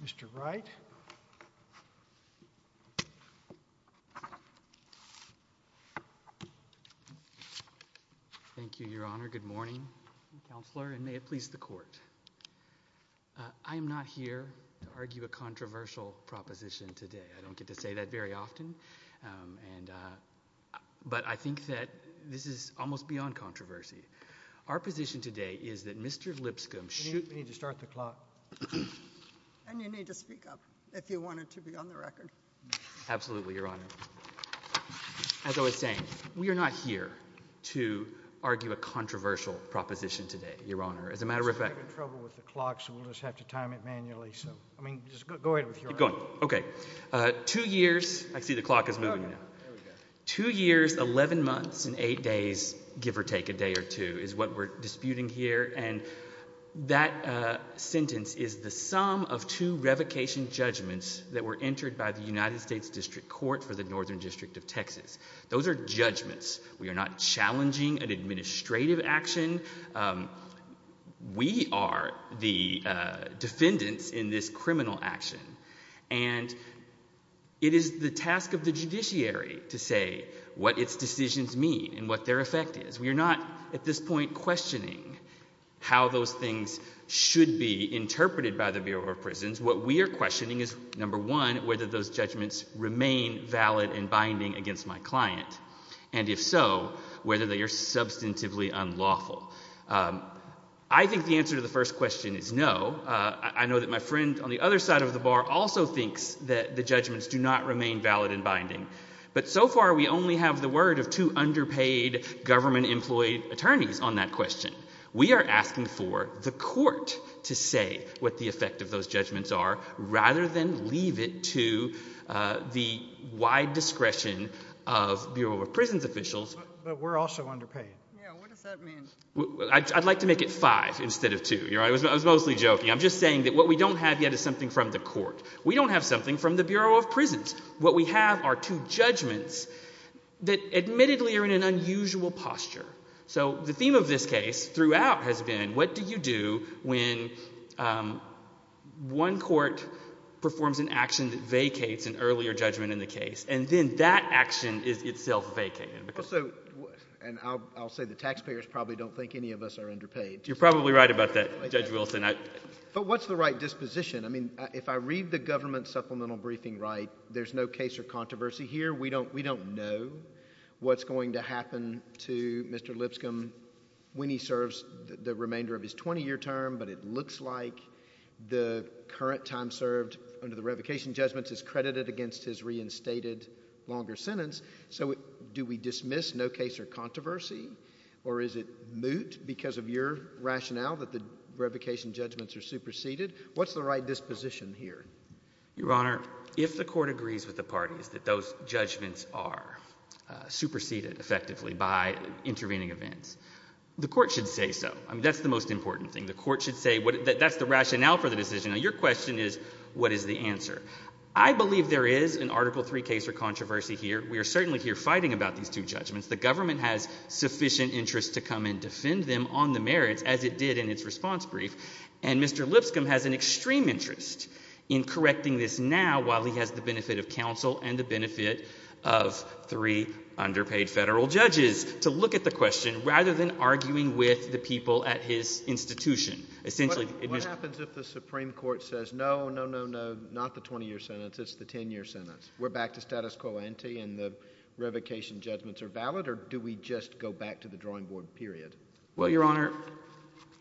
Mr. Wright. Thank you, Your Honor. Good morning, Counselor, and may it please the Court. I am not here to argue a controversial proposition today. I don't get to say that very often, but I think that this is almost beyond controversy. Our position today is that Mr. Lipscomb should— We need to start the clock. And you need to speak up if you want it to be on the record. Absolutely, Your Honor. As I was saying, we are not here to argue a controversial proposition today, Your Honor. As a matter of fact— We're having trouble with the clock, so we'll just have to time it manually. Keep going. Okay. Two years—I see the clock is moving now. Two years, 11 months, and eight days, give or take a day or two, is what we're disputing here. And that sentence is the sum of two revocation judgments that were entered by the United States District Court for the Northern District of Texas. Those are judgments. We are not challenging an administrative action. We are the defendants in this criminal action. And it is the task of the judiciary to say what its decisions mean and what their effect is. We are not, at this point, questioning how those things should be interpreted by the Bureau of Prisons. What we are questioning is, number one, whether those judgments remain valid and binding against my client, and if so, whether they are substantively unlawful. I think the answer to the first question is no. I know that my friend on the other side of the bar also thinks that the judgments do not remain valid and binding. But so far, we only have the word of two underpaid government-employed attorneys on that question. We are asking for the court to say what the effect of those judgments are, rather than leave it to the wide discretion of Bureau of Prisons officials. But we're also underpaid. Yeah, what does that mean? I'd like to make it five instead of two. I was mostly joking. I'm just saying that what we don't have yet is something from the court. We don't have something from the Bureau of Prisons. What we have are two judgments that admittedly are in an unusual posture. So the theme of this case throughout has been, what do you do when one court performs an action that vacates an earlier judgment in the case, and then that action is itself vacated? Also, and I'll say the taxpayers probably don't think any of us are underpaid. You're probably right about that, Judge Wilson. But what's the right disposition? I mean, if I read the government supplemental briefing right, there's no case or controversy here. We don't know what's going to happen to Mr. Lipscomb when he serves the remainder of his 20-year term, but it looks like the current time served under the revocation judgments is credited against his reinstated longer sentence. So do we dismiss no rationale that the revocation judgments are superseded? What's the right disposition here? Your Honor, if the court agrees with the parties that those judgments are superseded effectively by intervening events, the court should say so. I mean, that's the most important thing. The court should say that that's the rationale for the decision. Now, your question is, what is the answer? I believe there is an Article III case or controversy here. We are certainly here fighting about these two judgments. The government has sufficient interest to come and as it did in its response brief, and Mr. Lipscomb has an extreme interest in correcting this now while he has the benefit of counsel and the benefit of three underpaid federal judges to look at the question rather than arguing with the people at his institution. Essentially, What happens if the Supreme Court says, no, no, no, no, not the 20-year sentence, it's the 10-year sentence? We're back to status quo ante and the revocation judgments are valid, or do we just go back to the drawing board period? Well, Your Honor,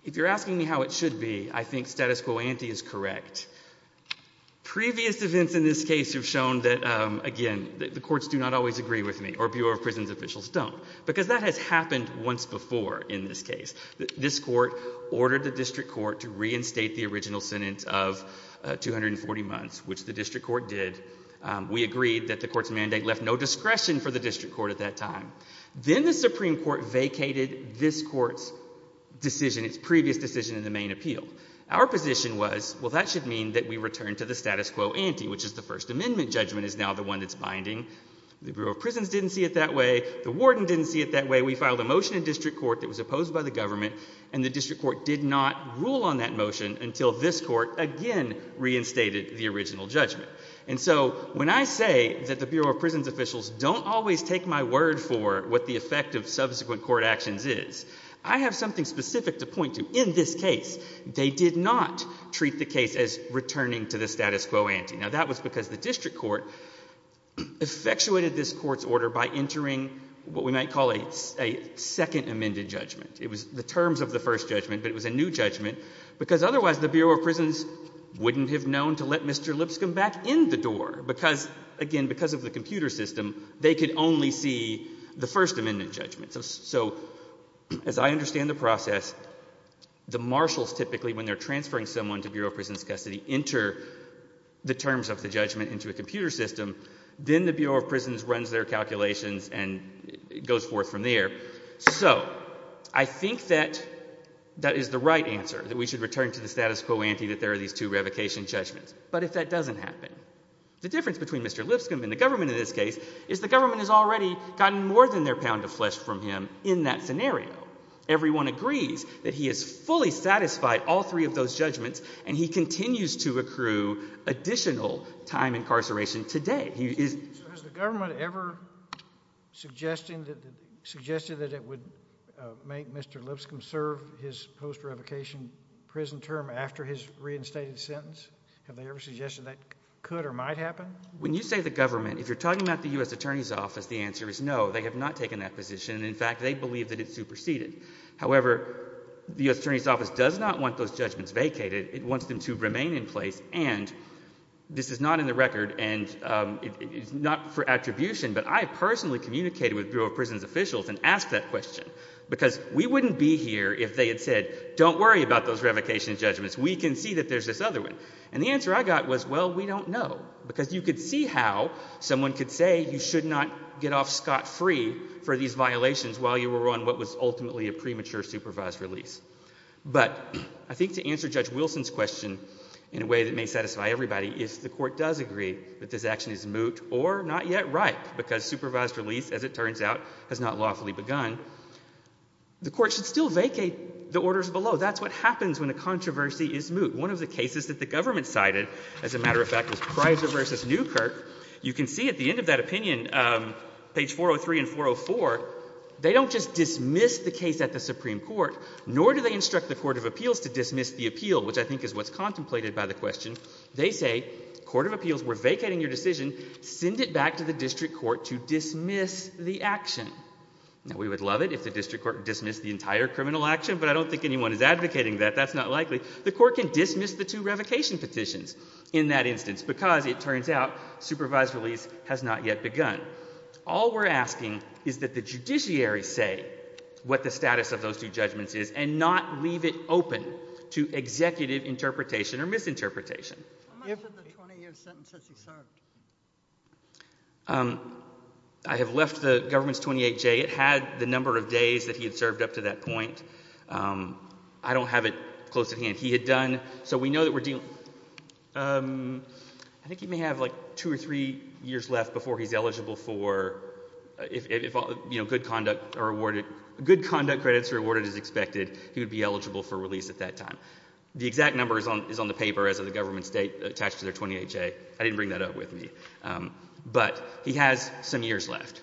if you're asking me how it should be, I think status quo ante is correct. Previous events in this case have shown that, again, the courts do not always agree with me, or Bureau of Prisons officials don't, because that has happened once before in this case. This court ordered the district court to reinstate the original sentence of 240 months, which the district court did. We agreed that the court's mandate left no discretion for the district court at that time. Then the Supreme Court vacated this court's decision, its previous decision in the main appeal. Our position was, well, that should mean that we return to the status quo ante, which is the First Amendment judgment is now the one that's binding. The Bureau of Prisons didn't see it that way. The warden didn't see it that way. We filed a motion in district court that was opposed by the government and the district court did not rule on that motion until this court again reinstated the First Amendment judgment. And again, the Bureau of Prisons officials don't always take my word for what the effect of subsequent court actions is. I have something specific to point to. In this case, they did not treat the case as returning to the status quo ante. Now, that was because the district court effectuated this court's order by entering what we might call a Second Amendment judgment. It was the terms of the First Judgment, but it was a new judgment, because otherwise the Bureau of Prisons wouldn't have known to let Mr. Lipscomb back in the door, because, again, because of the computer system, they could only see the First Amendment judgment. So as I understand the process, the marshals typically, when they're transferring someone to Bureau of Prisons custody, enter the terms of the judgment into a computer system, then the Bureau of Prisons runs their calculations and goes forth from there. So I think that that is the right answer, that we should return to the status quo ante, that there are these two revocation judgments. But if that doesn't happen, the difference between Mr. Lipscomb and the government in this case is the government has already gotten more than their pound of flesh from him in that scenario. Everyone agrees that he has fully satisfied all three of those judgments, and he continues to accrue additional time incarceration today. So has the government ever suggested that it would make Mr. Lipscomb serve his post-revocation prison term after his reinstated sentence? Have they ever suggested that could or might happen? When you say the government, if you're talking about the U.S. Attorney's Office, the answer is no. They have not taken that position. In fact, they believe that it's superseded. However, the U.S. Attorney's Office does not want those judgments vacated. It wants them to remain in place. And this is not in the record, and it's not for attribution, but I personally communicated with Bureau of Prisons officials and asked that question. Because we wouldn't be here if they had said, don't worry about those revocation judgments. We can see that there's this other one. And the answer I got was, well, we don't know. Because you could see how someone could say you should not get off scot-free for these violations while you were on what was ultimately a premature supervised release. But I think to answer Judge Wilson's question in a way that may satisfy everybody, if the Court does agree that this action is moot or not yet ripe, because supervised release, as it turns out, has not lawfully begun, the Court should still vacate the orders below. That's what happens when a controversy is moot. One of the cases that the government cited, as a matter of fact, was Prizer v. Newkirk. You can see at the end of that opinion, page 403 and 404, they don't just dismiss the case at the Supreme Court, nor do they instruct the Court of Appeals to dismiss the appeal, which I think is what's contemplated by the question. They say, Court of Appeals, we're vacating your decision. Send it back to the District Court to dismiss the action. Now, we would love it if the District Court dismissed the entire criminal action, but I don't think anyone is advocating that. That's not likely. The Court can dismiss the two revocation petitions in that instance, because it turns out supervised release has not yet begun. All we're asking is that the judiciary say what the status of those two judgments is, and not leave it open to executive interpretation or misinterpretation. I have left the government's 28J. It had the number of days that he had served up to that point. I don't have it close at hand. He had done, so we know that we're dealing, um, I think he may have, like, two or three years left before he's eligible for, if, you know, good conduct are awarded, good conduct credits are awarded as expected, he would be eligible for release at that time. The exact number is on the paper as of the government's date attached to their 28J. I didn't bring that up with me. But he has some years left.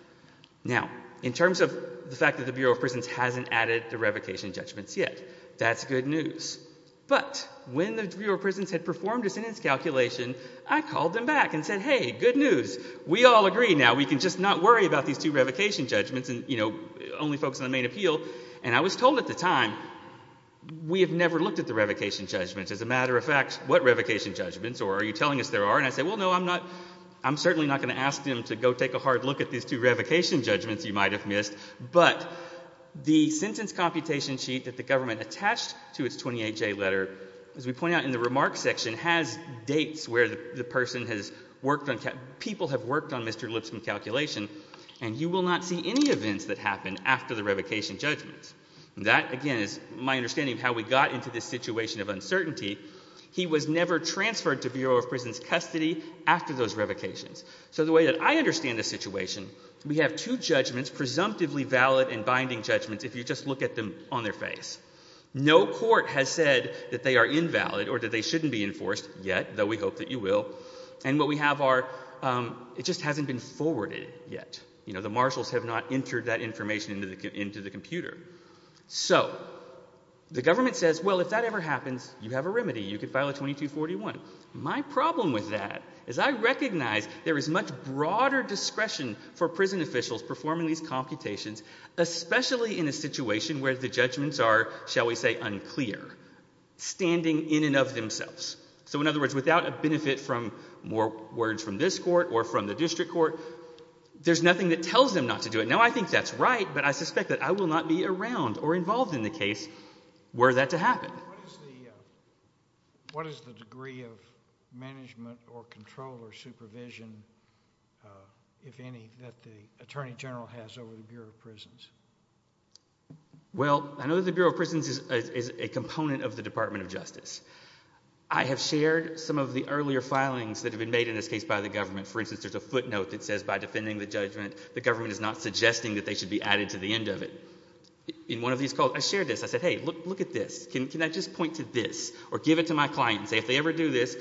Now, in terms of the fact that the Bureau of Prisons hasn't added the revocation judgments yet, that's good news. But when the Bureau of Prisons had performed a sentence calculation, I called them back and said, hey, good news, we all agree now, we can just not worry about these two revocation judgments and, you know, only focus on the main appeal. And I was told at the time, we have never looked at the revocation judgments. As a matter of fact, what revocation judgments, or are you telling us there are? And I said, well, no, I'm not, I'm certainly not going to ask them to go take a hard look at these two revocation judgments you might have missed. But the sentence computation sheet that the government attached to its 28J letter, as we point out in the remarks section, has dates where the person has worked on, people have worked on Mr. Lipscomb's calculation. And you will not see any events that happen after the revocation judgments. That, again, is my understanding of how we got into this situation of uncertainty. He was never transferred to Bureau of Prisons custody after those revocations. So the way that I understand the situation, we have two judgments, presumptively valid and binding judgments, if you just look at them on their face. No court has said that they are invalid or that they shouldn't be enforced yet, though we hope that you will. And what we have are, it just hasn't been forwarded yet. You know, the marshals have not entered that information into the computer. So the government says, well, if that ever happens, you have a remedy, you can file a 2241. My problem with that is I recognize there is much broader discretion for prison officials performing these computations, especially in a situation where the judgments are, shall we say, unclear, standing in and of themselves. So in other words, without a benefit from more words from this court or from the district court, there's nothing that tells them not to do it. Now, I think that's right, but I suspect that I will not be around or involved in the case were that to happen. What is the degree of management or control or supervision, if any, that the Attorney General has over the Bureau of Prisons? Well, I know the Bureau of Prisons is a component of the Department of Justice. I have shared some of the earlier filings that have been made in this case by the government. For instance, there's a footnote that says, by defending the judgment, the government is not looking at this. I said, hey, look at this. Can I just point to this or give it to my client and say if they ever do this?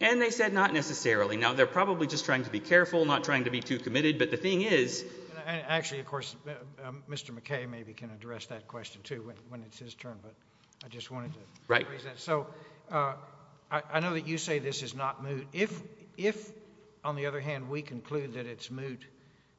And they said not necessarily. Now, they're probably just trying to be careful, not trying to be too committed. But the thing is... Actually, of course, Mr. McKay maybe can address that question, too, when it's his turn. But I just wanted to... Right. So I know that you say this is not moot. If, on the other hand, we conclude that it's moot,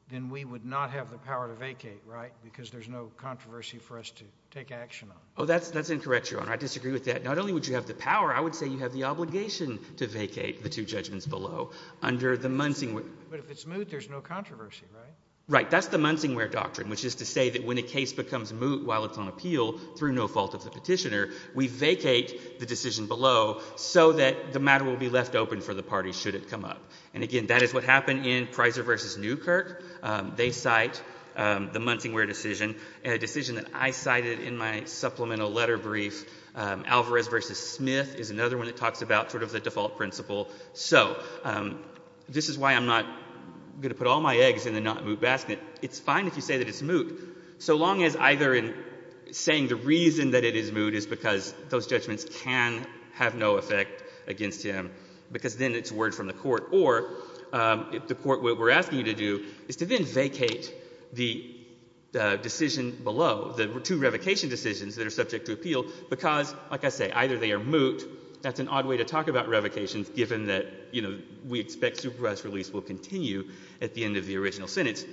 then we would not have the power to vacate, right? Because there's no controversy for us to take action on. Oh, that's incorrect, Your Honor. I disagree with that. Not only would you have the power, I would say you have the obligation to vacate the two judgments below under the Munsingware... But if it's moot, there's no controversy, right? Right. That's the Munsingware doctrine, which is to say that when a case becomes moot while it's on appeal through no fault of the petitioner, we vacate the decision below so that the matter will be left open for the parties should it come up. And again, that is what happened in a decision that I cited in my supplemental letter brief. Alvarez v. Smith is another one that talks about sort of the default principle. So this is why I'm not going to put all my eggs in the not moot basket. It's fine if you say that it's moot, so long as either in saying the reason that it is moot is because those judgments can have no effect against him, because then it's word from the decision below, the two revocation decisions that are subject to appeal, because, like I say, either they are moot. That's an odd way to talk about revocations given that, you know, we expect supervised release will continue at the end of the original sentence.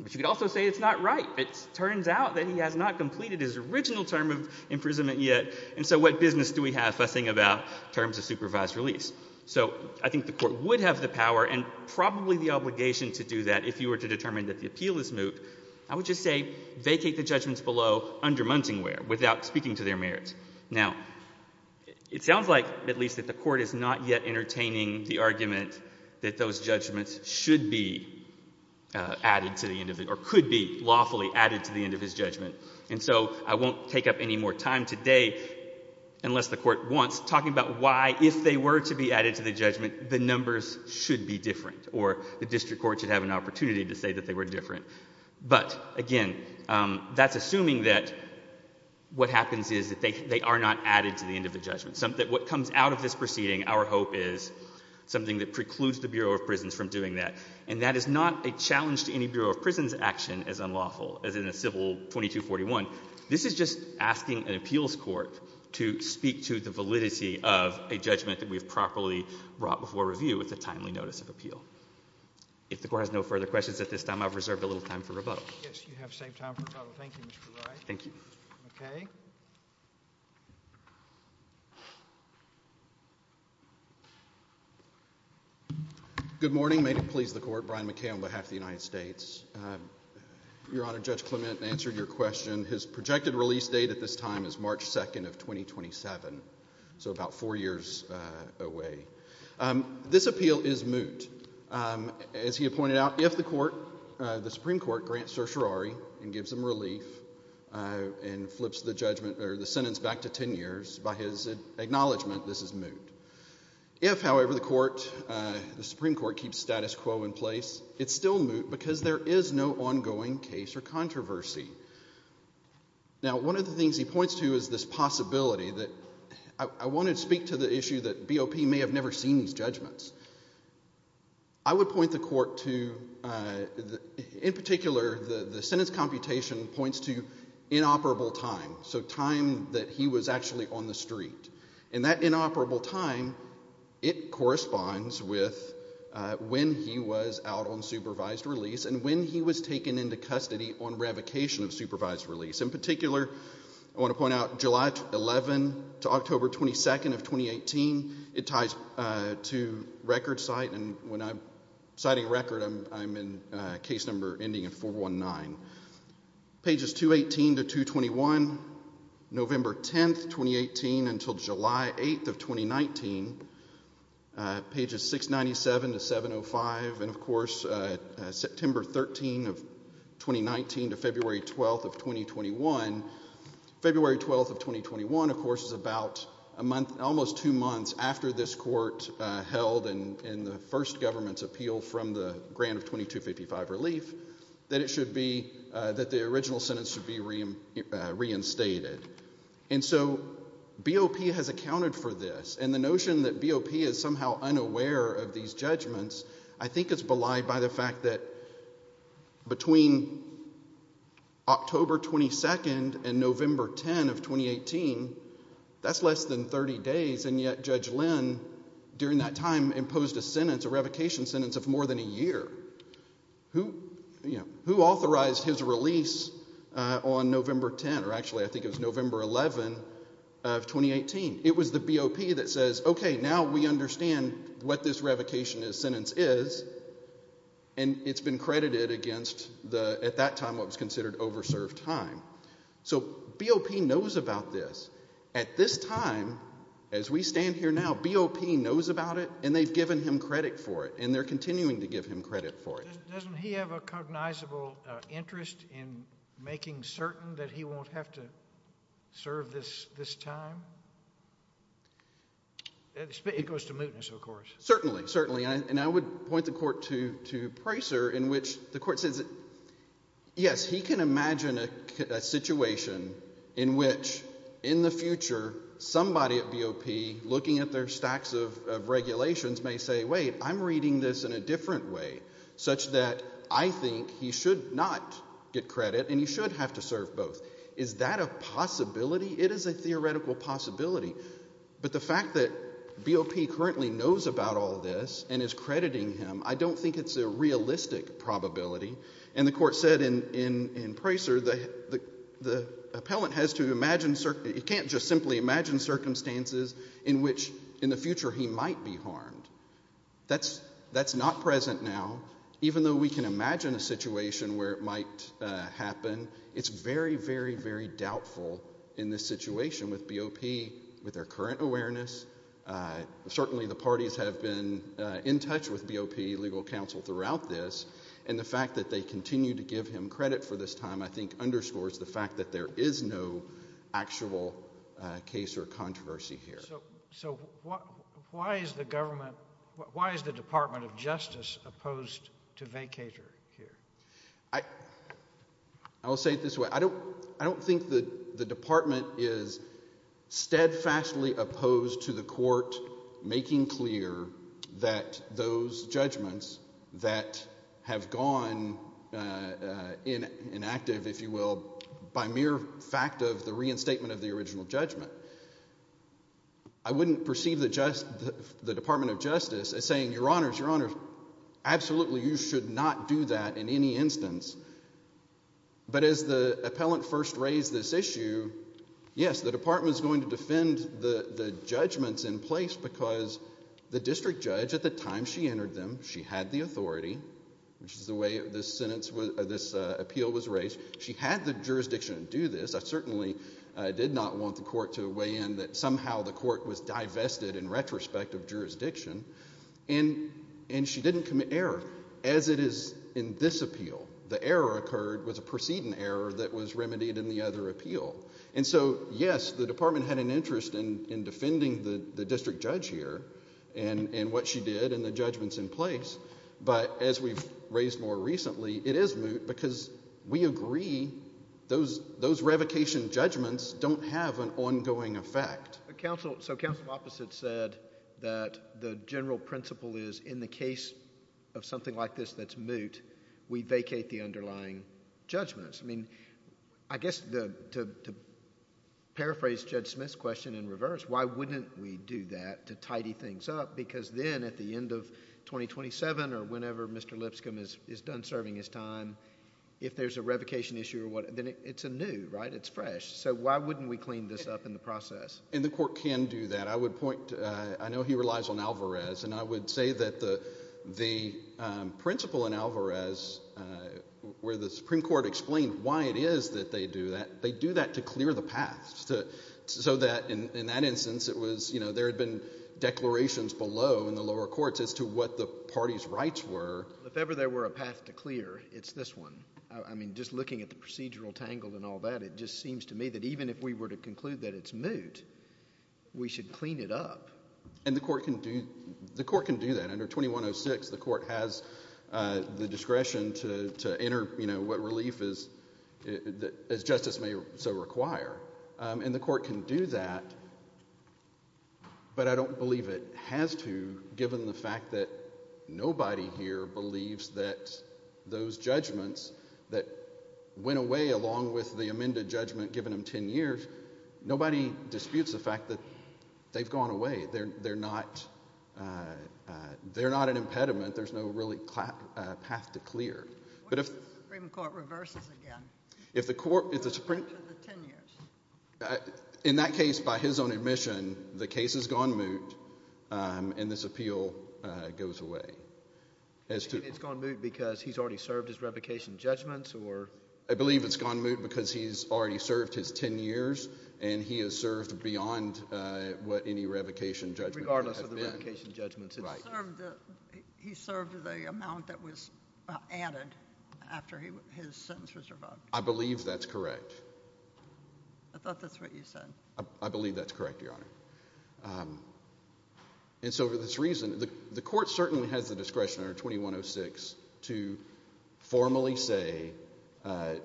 But you could also say it's not right. It turns out that he has not completed his original term of imprisonment yet, and so what business do we have fussing about terms of supervised release? So I think the Court would have the power and probably the obligation to do that if you were to determine that the appeal is moot, I would just say vacate the judgments below, undermunting where, without speaking to their merits. Now, it sounds like, at least, that the Court is not yet entertaining the argument that those judgments should be added to the end of it or could be lawfully added to the end of his judgment, and so I won't take up any more time today, unless the Court wants, talking about why, if they were to be added to the judgment, the numbers should be different or the district court should have an opportunity to say that they were different. But, again, that's assuming that what happens is that they are not added to the end of the judgment. What comes out of this proceeding, our hope, is something that precludes the Bureau of Prisons from doing that, and that is not a challenge to any Bureau of Prisons action as unlawful, as in a civil 2241. This is just asking an appeals court to speak to the validity of a judgment that we've properly brought before review with a timely notice of appeal. If the Court has no further questions at this time, I've reserved a little time for rebuttal. Yes, you have saved time for rebuttal. Thank you, Mr. Wright. Thank you. Good morning. May it please the Court. Brian McKay on behalf of the United States. Your Honor, Judge Clement answered your question. His projected release date at this time is March 2nd of 2027, so about four years away. This appeal is moot. As he pointed out, if the Supreme Court grants certiorari and gives him relief and flips the sentence back to 10 years, by his acknowledgment, this is moot. If, however, the Supreme Court keeps status quo in place, it's still moot because there is no ongoing case or controversy. Now, one of the things he points to is this possibility that I want to speak to the issue that BOP may have never seen these judgments. I would point the Court to, in particular, the sentence computation points to inoperable time, so time that he was actually on the street. And that inoperable time, it corresponds with when he was out on supervised release and when he was taken into custody on revocation of supervised release. In particular, I want to point out July 11th to October 22nd of 2018, it ties to record cite. And when I'm citing record, I'm in case number ending in 419. Pages 218 to 221, November 10th, 2018, until July 8th of 2019, pages 697 to 705, and, of course, September 13th of 2019 to February 12th of 2021. February 12th of 2021, of course, is about a month, almost two months after this Court held in the first government's appeal from the grant of 2255 relief, that the original sentence should be reinstated. And so BOP has accounted for this. And the notion that BOP is somehow unaware of these judgments, I think it's belied by the fact that between October 22nd and November 10th of 2018, that's less than 30 days, and yet Judge Lynn, during that time, imposed a sentence, a revocation sentence, of more than a year. Who authorized his release on November 10th, or actually, I think it was November 11th of 2018? It was the BOP that says, okay, now we understand what this revocation sentence is, and it's been credited against, at that time, what was considered over-served time. So BOP knows about this. At this time, as we stand here now, BOP knows about it, and they've given him credit for it, and they're continuing to give him credit for it. Doesn't he have a cognizable interest in making certain that he won't have to serve this time? It goes to mootness, of course. Certainly, certainly. And I would point the Court to Pricer, in which the Court says, yes, he can imagine a situation in which, in the future, somebody at BOP, looking at their stacks of regulations, may say, wait, I'm reading this in a different way, such that I think he should not get credit, and he should have to serve both. Is that a possibility? It is a theoretical possibility. But the fact that BOP currently knows about all this, and is crediting him, I don't think it's a realistic probability. And the Court said, in Pricer, the appellant has to imagine, you can't just simply imagine circumstances in which, in the future, he might be harmed. That's not present now. Even though we can imagine a situation where it might happen, it's very, very, very doubtful in this situation with BOP, with their current awareness. Certainly, the parties have been in touch with BOP legal counsel throughout this, and the fact that they continue to give him credit for this time, I think, underscores the fact that there is no actual case or controversy here. So why is the Department of Justice opposed to vacater here? I will say it this way. I don't think the Department is steadfastly opposed to the Court making clear that those judgments that have gone inactive, if you will, by mere fact of the reinstatement of the original judgment. I wouldn't perceive the Department of Justice as saying, Your Honors, Your Honors, absolutely, you should not do that in any instance. But as the appellant first raised this issue, yes, the Department is going to defend the judgments in place because the district judge, at the time she entered them, she had the authority, which is the way this appeal was raised. She had the jurisdiction to do this. I certainly did not want the Court to weigh in that somehow the Court was divested in retrospect of jurisdiction, and she didn't commit error, as it is in this appeal. The error occurred was a preceding error that was remedied in the other appeal. And so, yes, the Department had an interest in defending the district judge here and what she did and the judgments in place, but as we've raised more recently, it is moot because we agree those revocation judgments don't have an ongoing effect. So counsel opposite said that the general principle is in the case of something like this that's moot, we vacate the underlying judgments. I mean, I guess to paraphrase Judge Smith's question in reverse, why wouldn't we do that to tidy things up? Because then at the end of 2027 or whenever Mr. Lipscomb is done serving his time, if there's a revocation issue or what, then it's anew, right? It's fresh. So why wouldn't we clean this up in the process? And the Court can do that. I would say that the principle in Alvarez where the Supreme Court explained why it is that they do that, they do that to clear the path so that in that instance it was, you know, there had been declarations below in the lower courts as to what the party's rights were. If ever there were a path to clear, it's this one. I mean, just looking at the procedural tangled and all that, it just seems to me that even if we were to conclude that it's moot, we should clean it up. And the Court can do that. Under 2106, the Court has the discretion to enter, you know, what relief as justice may so require. And the Court can do that, but I don't believe it has to given the fact that nobody here believes that those judgments that went away along with the amended judgment given 10 years, nobody disputes the fact that they've gone away. They're not an impediment. There's no really path to clear. What if the Supreme Court reverses again? In that case, by his own admission, the case has gone moot and this appeal goes away. It's gone moot because he's already served his 10 years and he has served beyond what any revocation judgment has been. Regardless of the revocation judgments, he served the amount that was added after his sentence was revoked. I believe that's correct. I thought that's what you said. I believe that's correct, Your Honor. And so for this reason, the Court certainly has the discretion under 2106 to formally say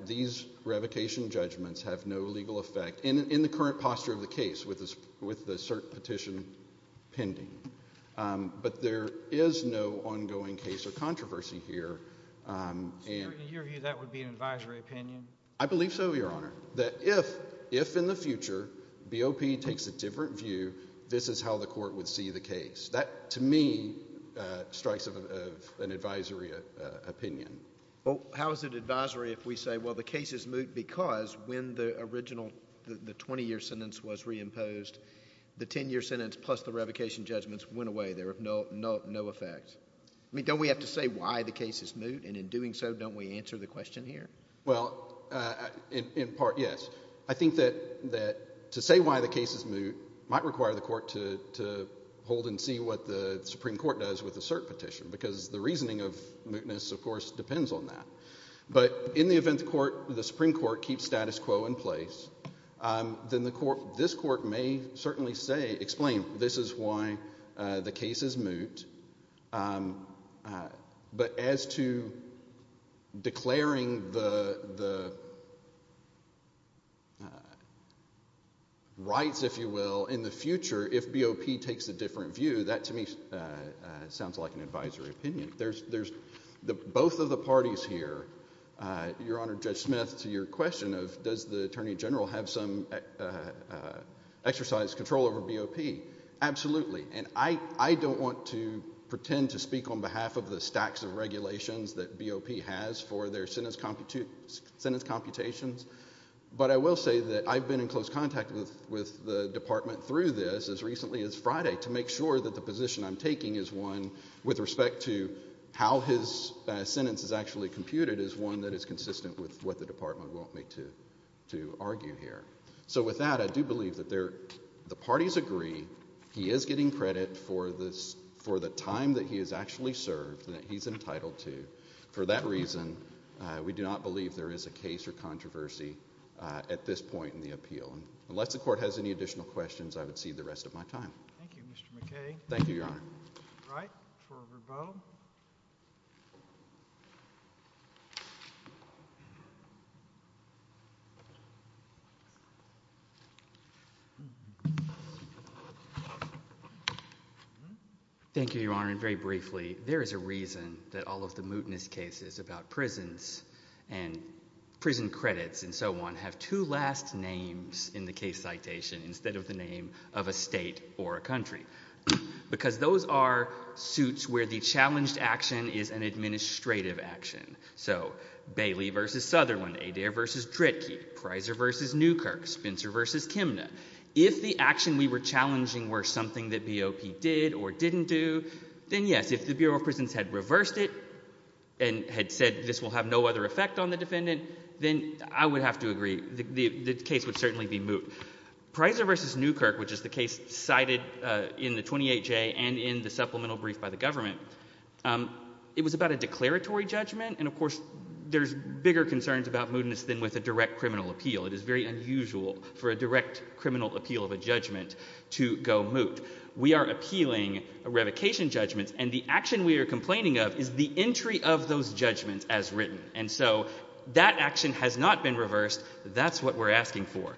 these revocation judgments have no legal effect in the current posture of the case with the cert petition pending. But there is no ongoing case or controversy here. In your view, that would be an advisory opinion? I believe so, Your Honor, that if in the future BOP takes a different view, this is how the Court would see the case. That, to me, strikes of an advisory opinion. Well, how is it advisory if we say, the case is moot because when the original 20-year sentence was reimposed, the 10-year sentence plus the revocation judgments went away. They're of no effect. Don't we have to say why the case is moot and in doing so, don't we answer the question here? Well, in part, yes. I think that to say why the case is moot might require the Court to hold and see what the Supreme Court does with the cert petition because the reasoning of mootness, of course, depends on that. But in the Supreme Court keeps status quo in place, then this Court may certainly say, explain, this is why the case is moot. But as to declaring the rights, if you will, in the future, if BOP takes a different view, that, to me, sounds like an advisory opinion. Both of the parties here, Your Honor, Judge Smith, to your question of does the Attorney General have some exercise control over BOP, absolutely. And I don't want to pretend to speak on behalf of the stacks of regulations that BOP has for their sentence computations, but I will say that I've been in close contact with the Department through this as recently as Friday to make sure that the one that is consistent with what the Department want me to argue here. So with that, I do believe that the parties agree, he is getting credit for the time that he has actually served that he's entitled to. For that reason, we do not believe there is a case or controversy at this point in the appeal. Unless the Court has any additional questions, I would cede the rest of my time. Thank you, Mr. McKay. Thank you, Your Honor. Wright for Verbo. Thank you, Your Honor. And very briefly, there is a reason that all of the mootness cases about prisons and prison credits and so on have two last names in the case citation instead of the name of a state or a country. Because those are suits where the challenged action is an administrative action. So Bailey v. Sutherland, Adair v. Dritke, Prysor v. Newkirk, Spencer v. Kimna. If the action we were challenging were something that BOP did or didn't do, then yes, if the Bureau of Prisons had reversed it and had said this will have no other effect on the defendant, then I would have to agree. The case would certainly be moot. Prysor v. Newkirk, which is the case cited in the 28J and in the supplemental brief by the government, it was about a declaratory judgment. And of course, there's bigger concerns about mootness than with a direct criminal appeal. It is very unusual for a direct criminal appeal of a judgment to go moot. We are appealing revocation judgments, and the action we are complaining of is the entry of those judgments as written. And so that action has not been reversed. That's what we're asking for.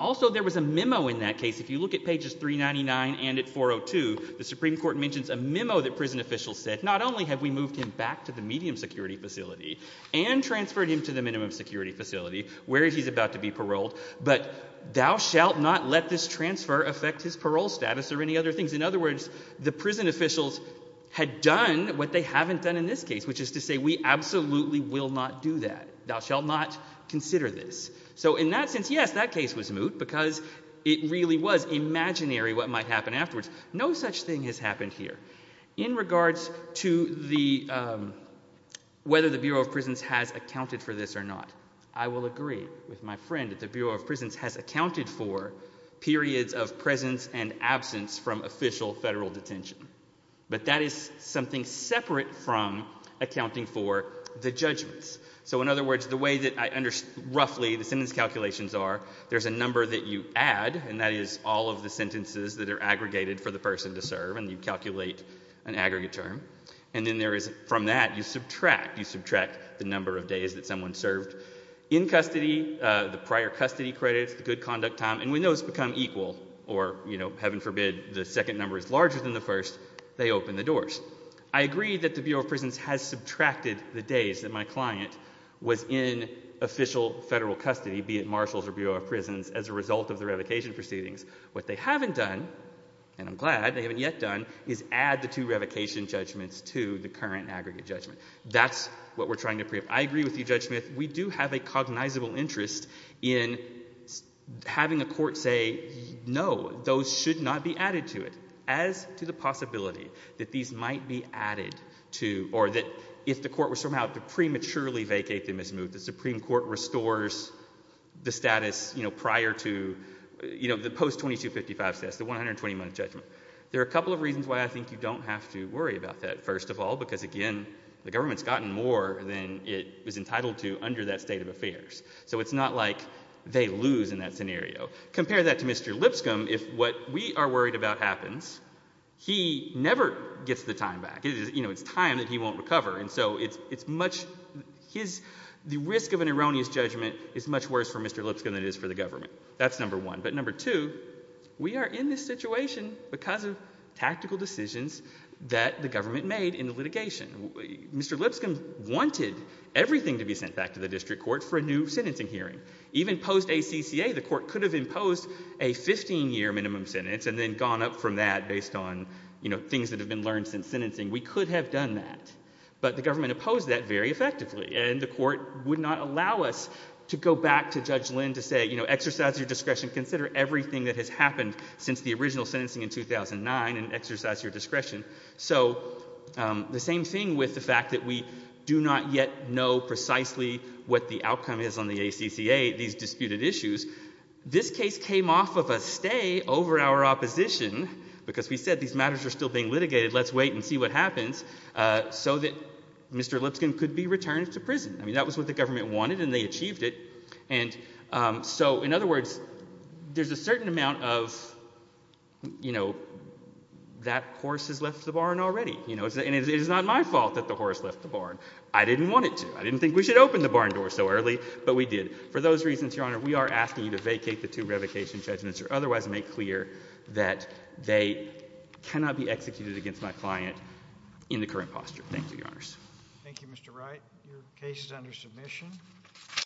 Also, there was a memo in that case. If you look at pages 399 and at 402, the Supreme Court mentions a memo that prison officials said, not only have we moved him back to the medium security facility and transferred him to the minimum security facility where he's about to be paroled, but thou shalt not let this transfer affect his parole status or any other things. In other words, the prison officials had done what they haven't done in this case, which is to say we absolutely will not do that. Thou shalt not might happen afterwards. No such thing has happened here. In regards to whether the Bureau of Prisons has accounted for this or not, I will agree with my friend that the Bureau of Prisons has accounted for periods of presence and absence from official federal detention. But that is something separate from accounting for the judgments. So in other words, the sentence calculations are, there's a number that you add, and that is all of the sentences that are aggregated for the person to serve, and you calculate an aggregate term. And then there is, from that, you subtract. You subtract the number of days that someone served in custody, the prior custody credits, the good conduct time. And when those become equal, or heaven forbid the second number is larger than the first, they open the doors. I agree that the Bureau of Prisons has or Bureau of Prisons as a result of the revocation proceedings. What they haven't done, and I'm glad they haven't yet done, is add the two revocation judgments to the current aggregate judgment. That's what we're trying to preempt. I agree with you, Judge Smith. We do have a cognizable interest in having a court say, no, those should not be added to it. As to the possibility that these might be added to, or that if the court were somehow to prematurely vacate them as moved, the Supreme Court restores the status prior to the post-2255 status, the 120 month judgment. There are a couple of reasons why I think you don't have to worry about that, first of all, because again, the government's gotten more than it was entitled to under that state of affairs. So it's not like they lose in that scenario. Compare that to Mr. Lipscomb. If what we are worried about happens, he never gets the time back. It's time that he won't recover. It's much—the risk of an erroneous judgment is much worse for Mr. Lipscomb than it is for the government. That's number one. But number two, we are in this situation because of tactical decisions that the government made in the litigation. Mr. Lipscomb wanted everything to be sent back to the district court for a new sentencing hearing. Even post-ACCA, the court could have imposed a 15-year minimum sentence and then gone up from that based on things that have learned since sentencing. We could have done that. But the government opposed that very effectively. And the court would not allow us to go back to Judge Lynn to say, you know, exercise your discretion. Consider everything that has happened since the original sentencing in 2009 and exercise your discretion. So the same thing with the fact that we do not yet know precisely what the outcome is on the ACCA, these disputed issues. This case came off of a stay over our opposition, because we said these matters are still being litigated. Let's wait and see what happens, so that Mr. Lipscomb could be returned to prison. I mean, that was what the government wanted, and they achieved it. And so, in other words, there's a certain amount of, you know, that horse has left the barn already. You know, and it is not my fault that the horse left the barn. I didn't want it to. I didn't think we should open the barn door so early, but we did. For those reasons, Your Honor, we are asking you to vacate the two revocation judgments or make clear that they cannot be executed against my client in the current posture. Thank you, Your Honors. Thank you, Mr. Wright. Your case is under submission.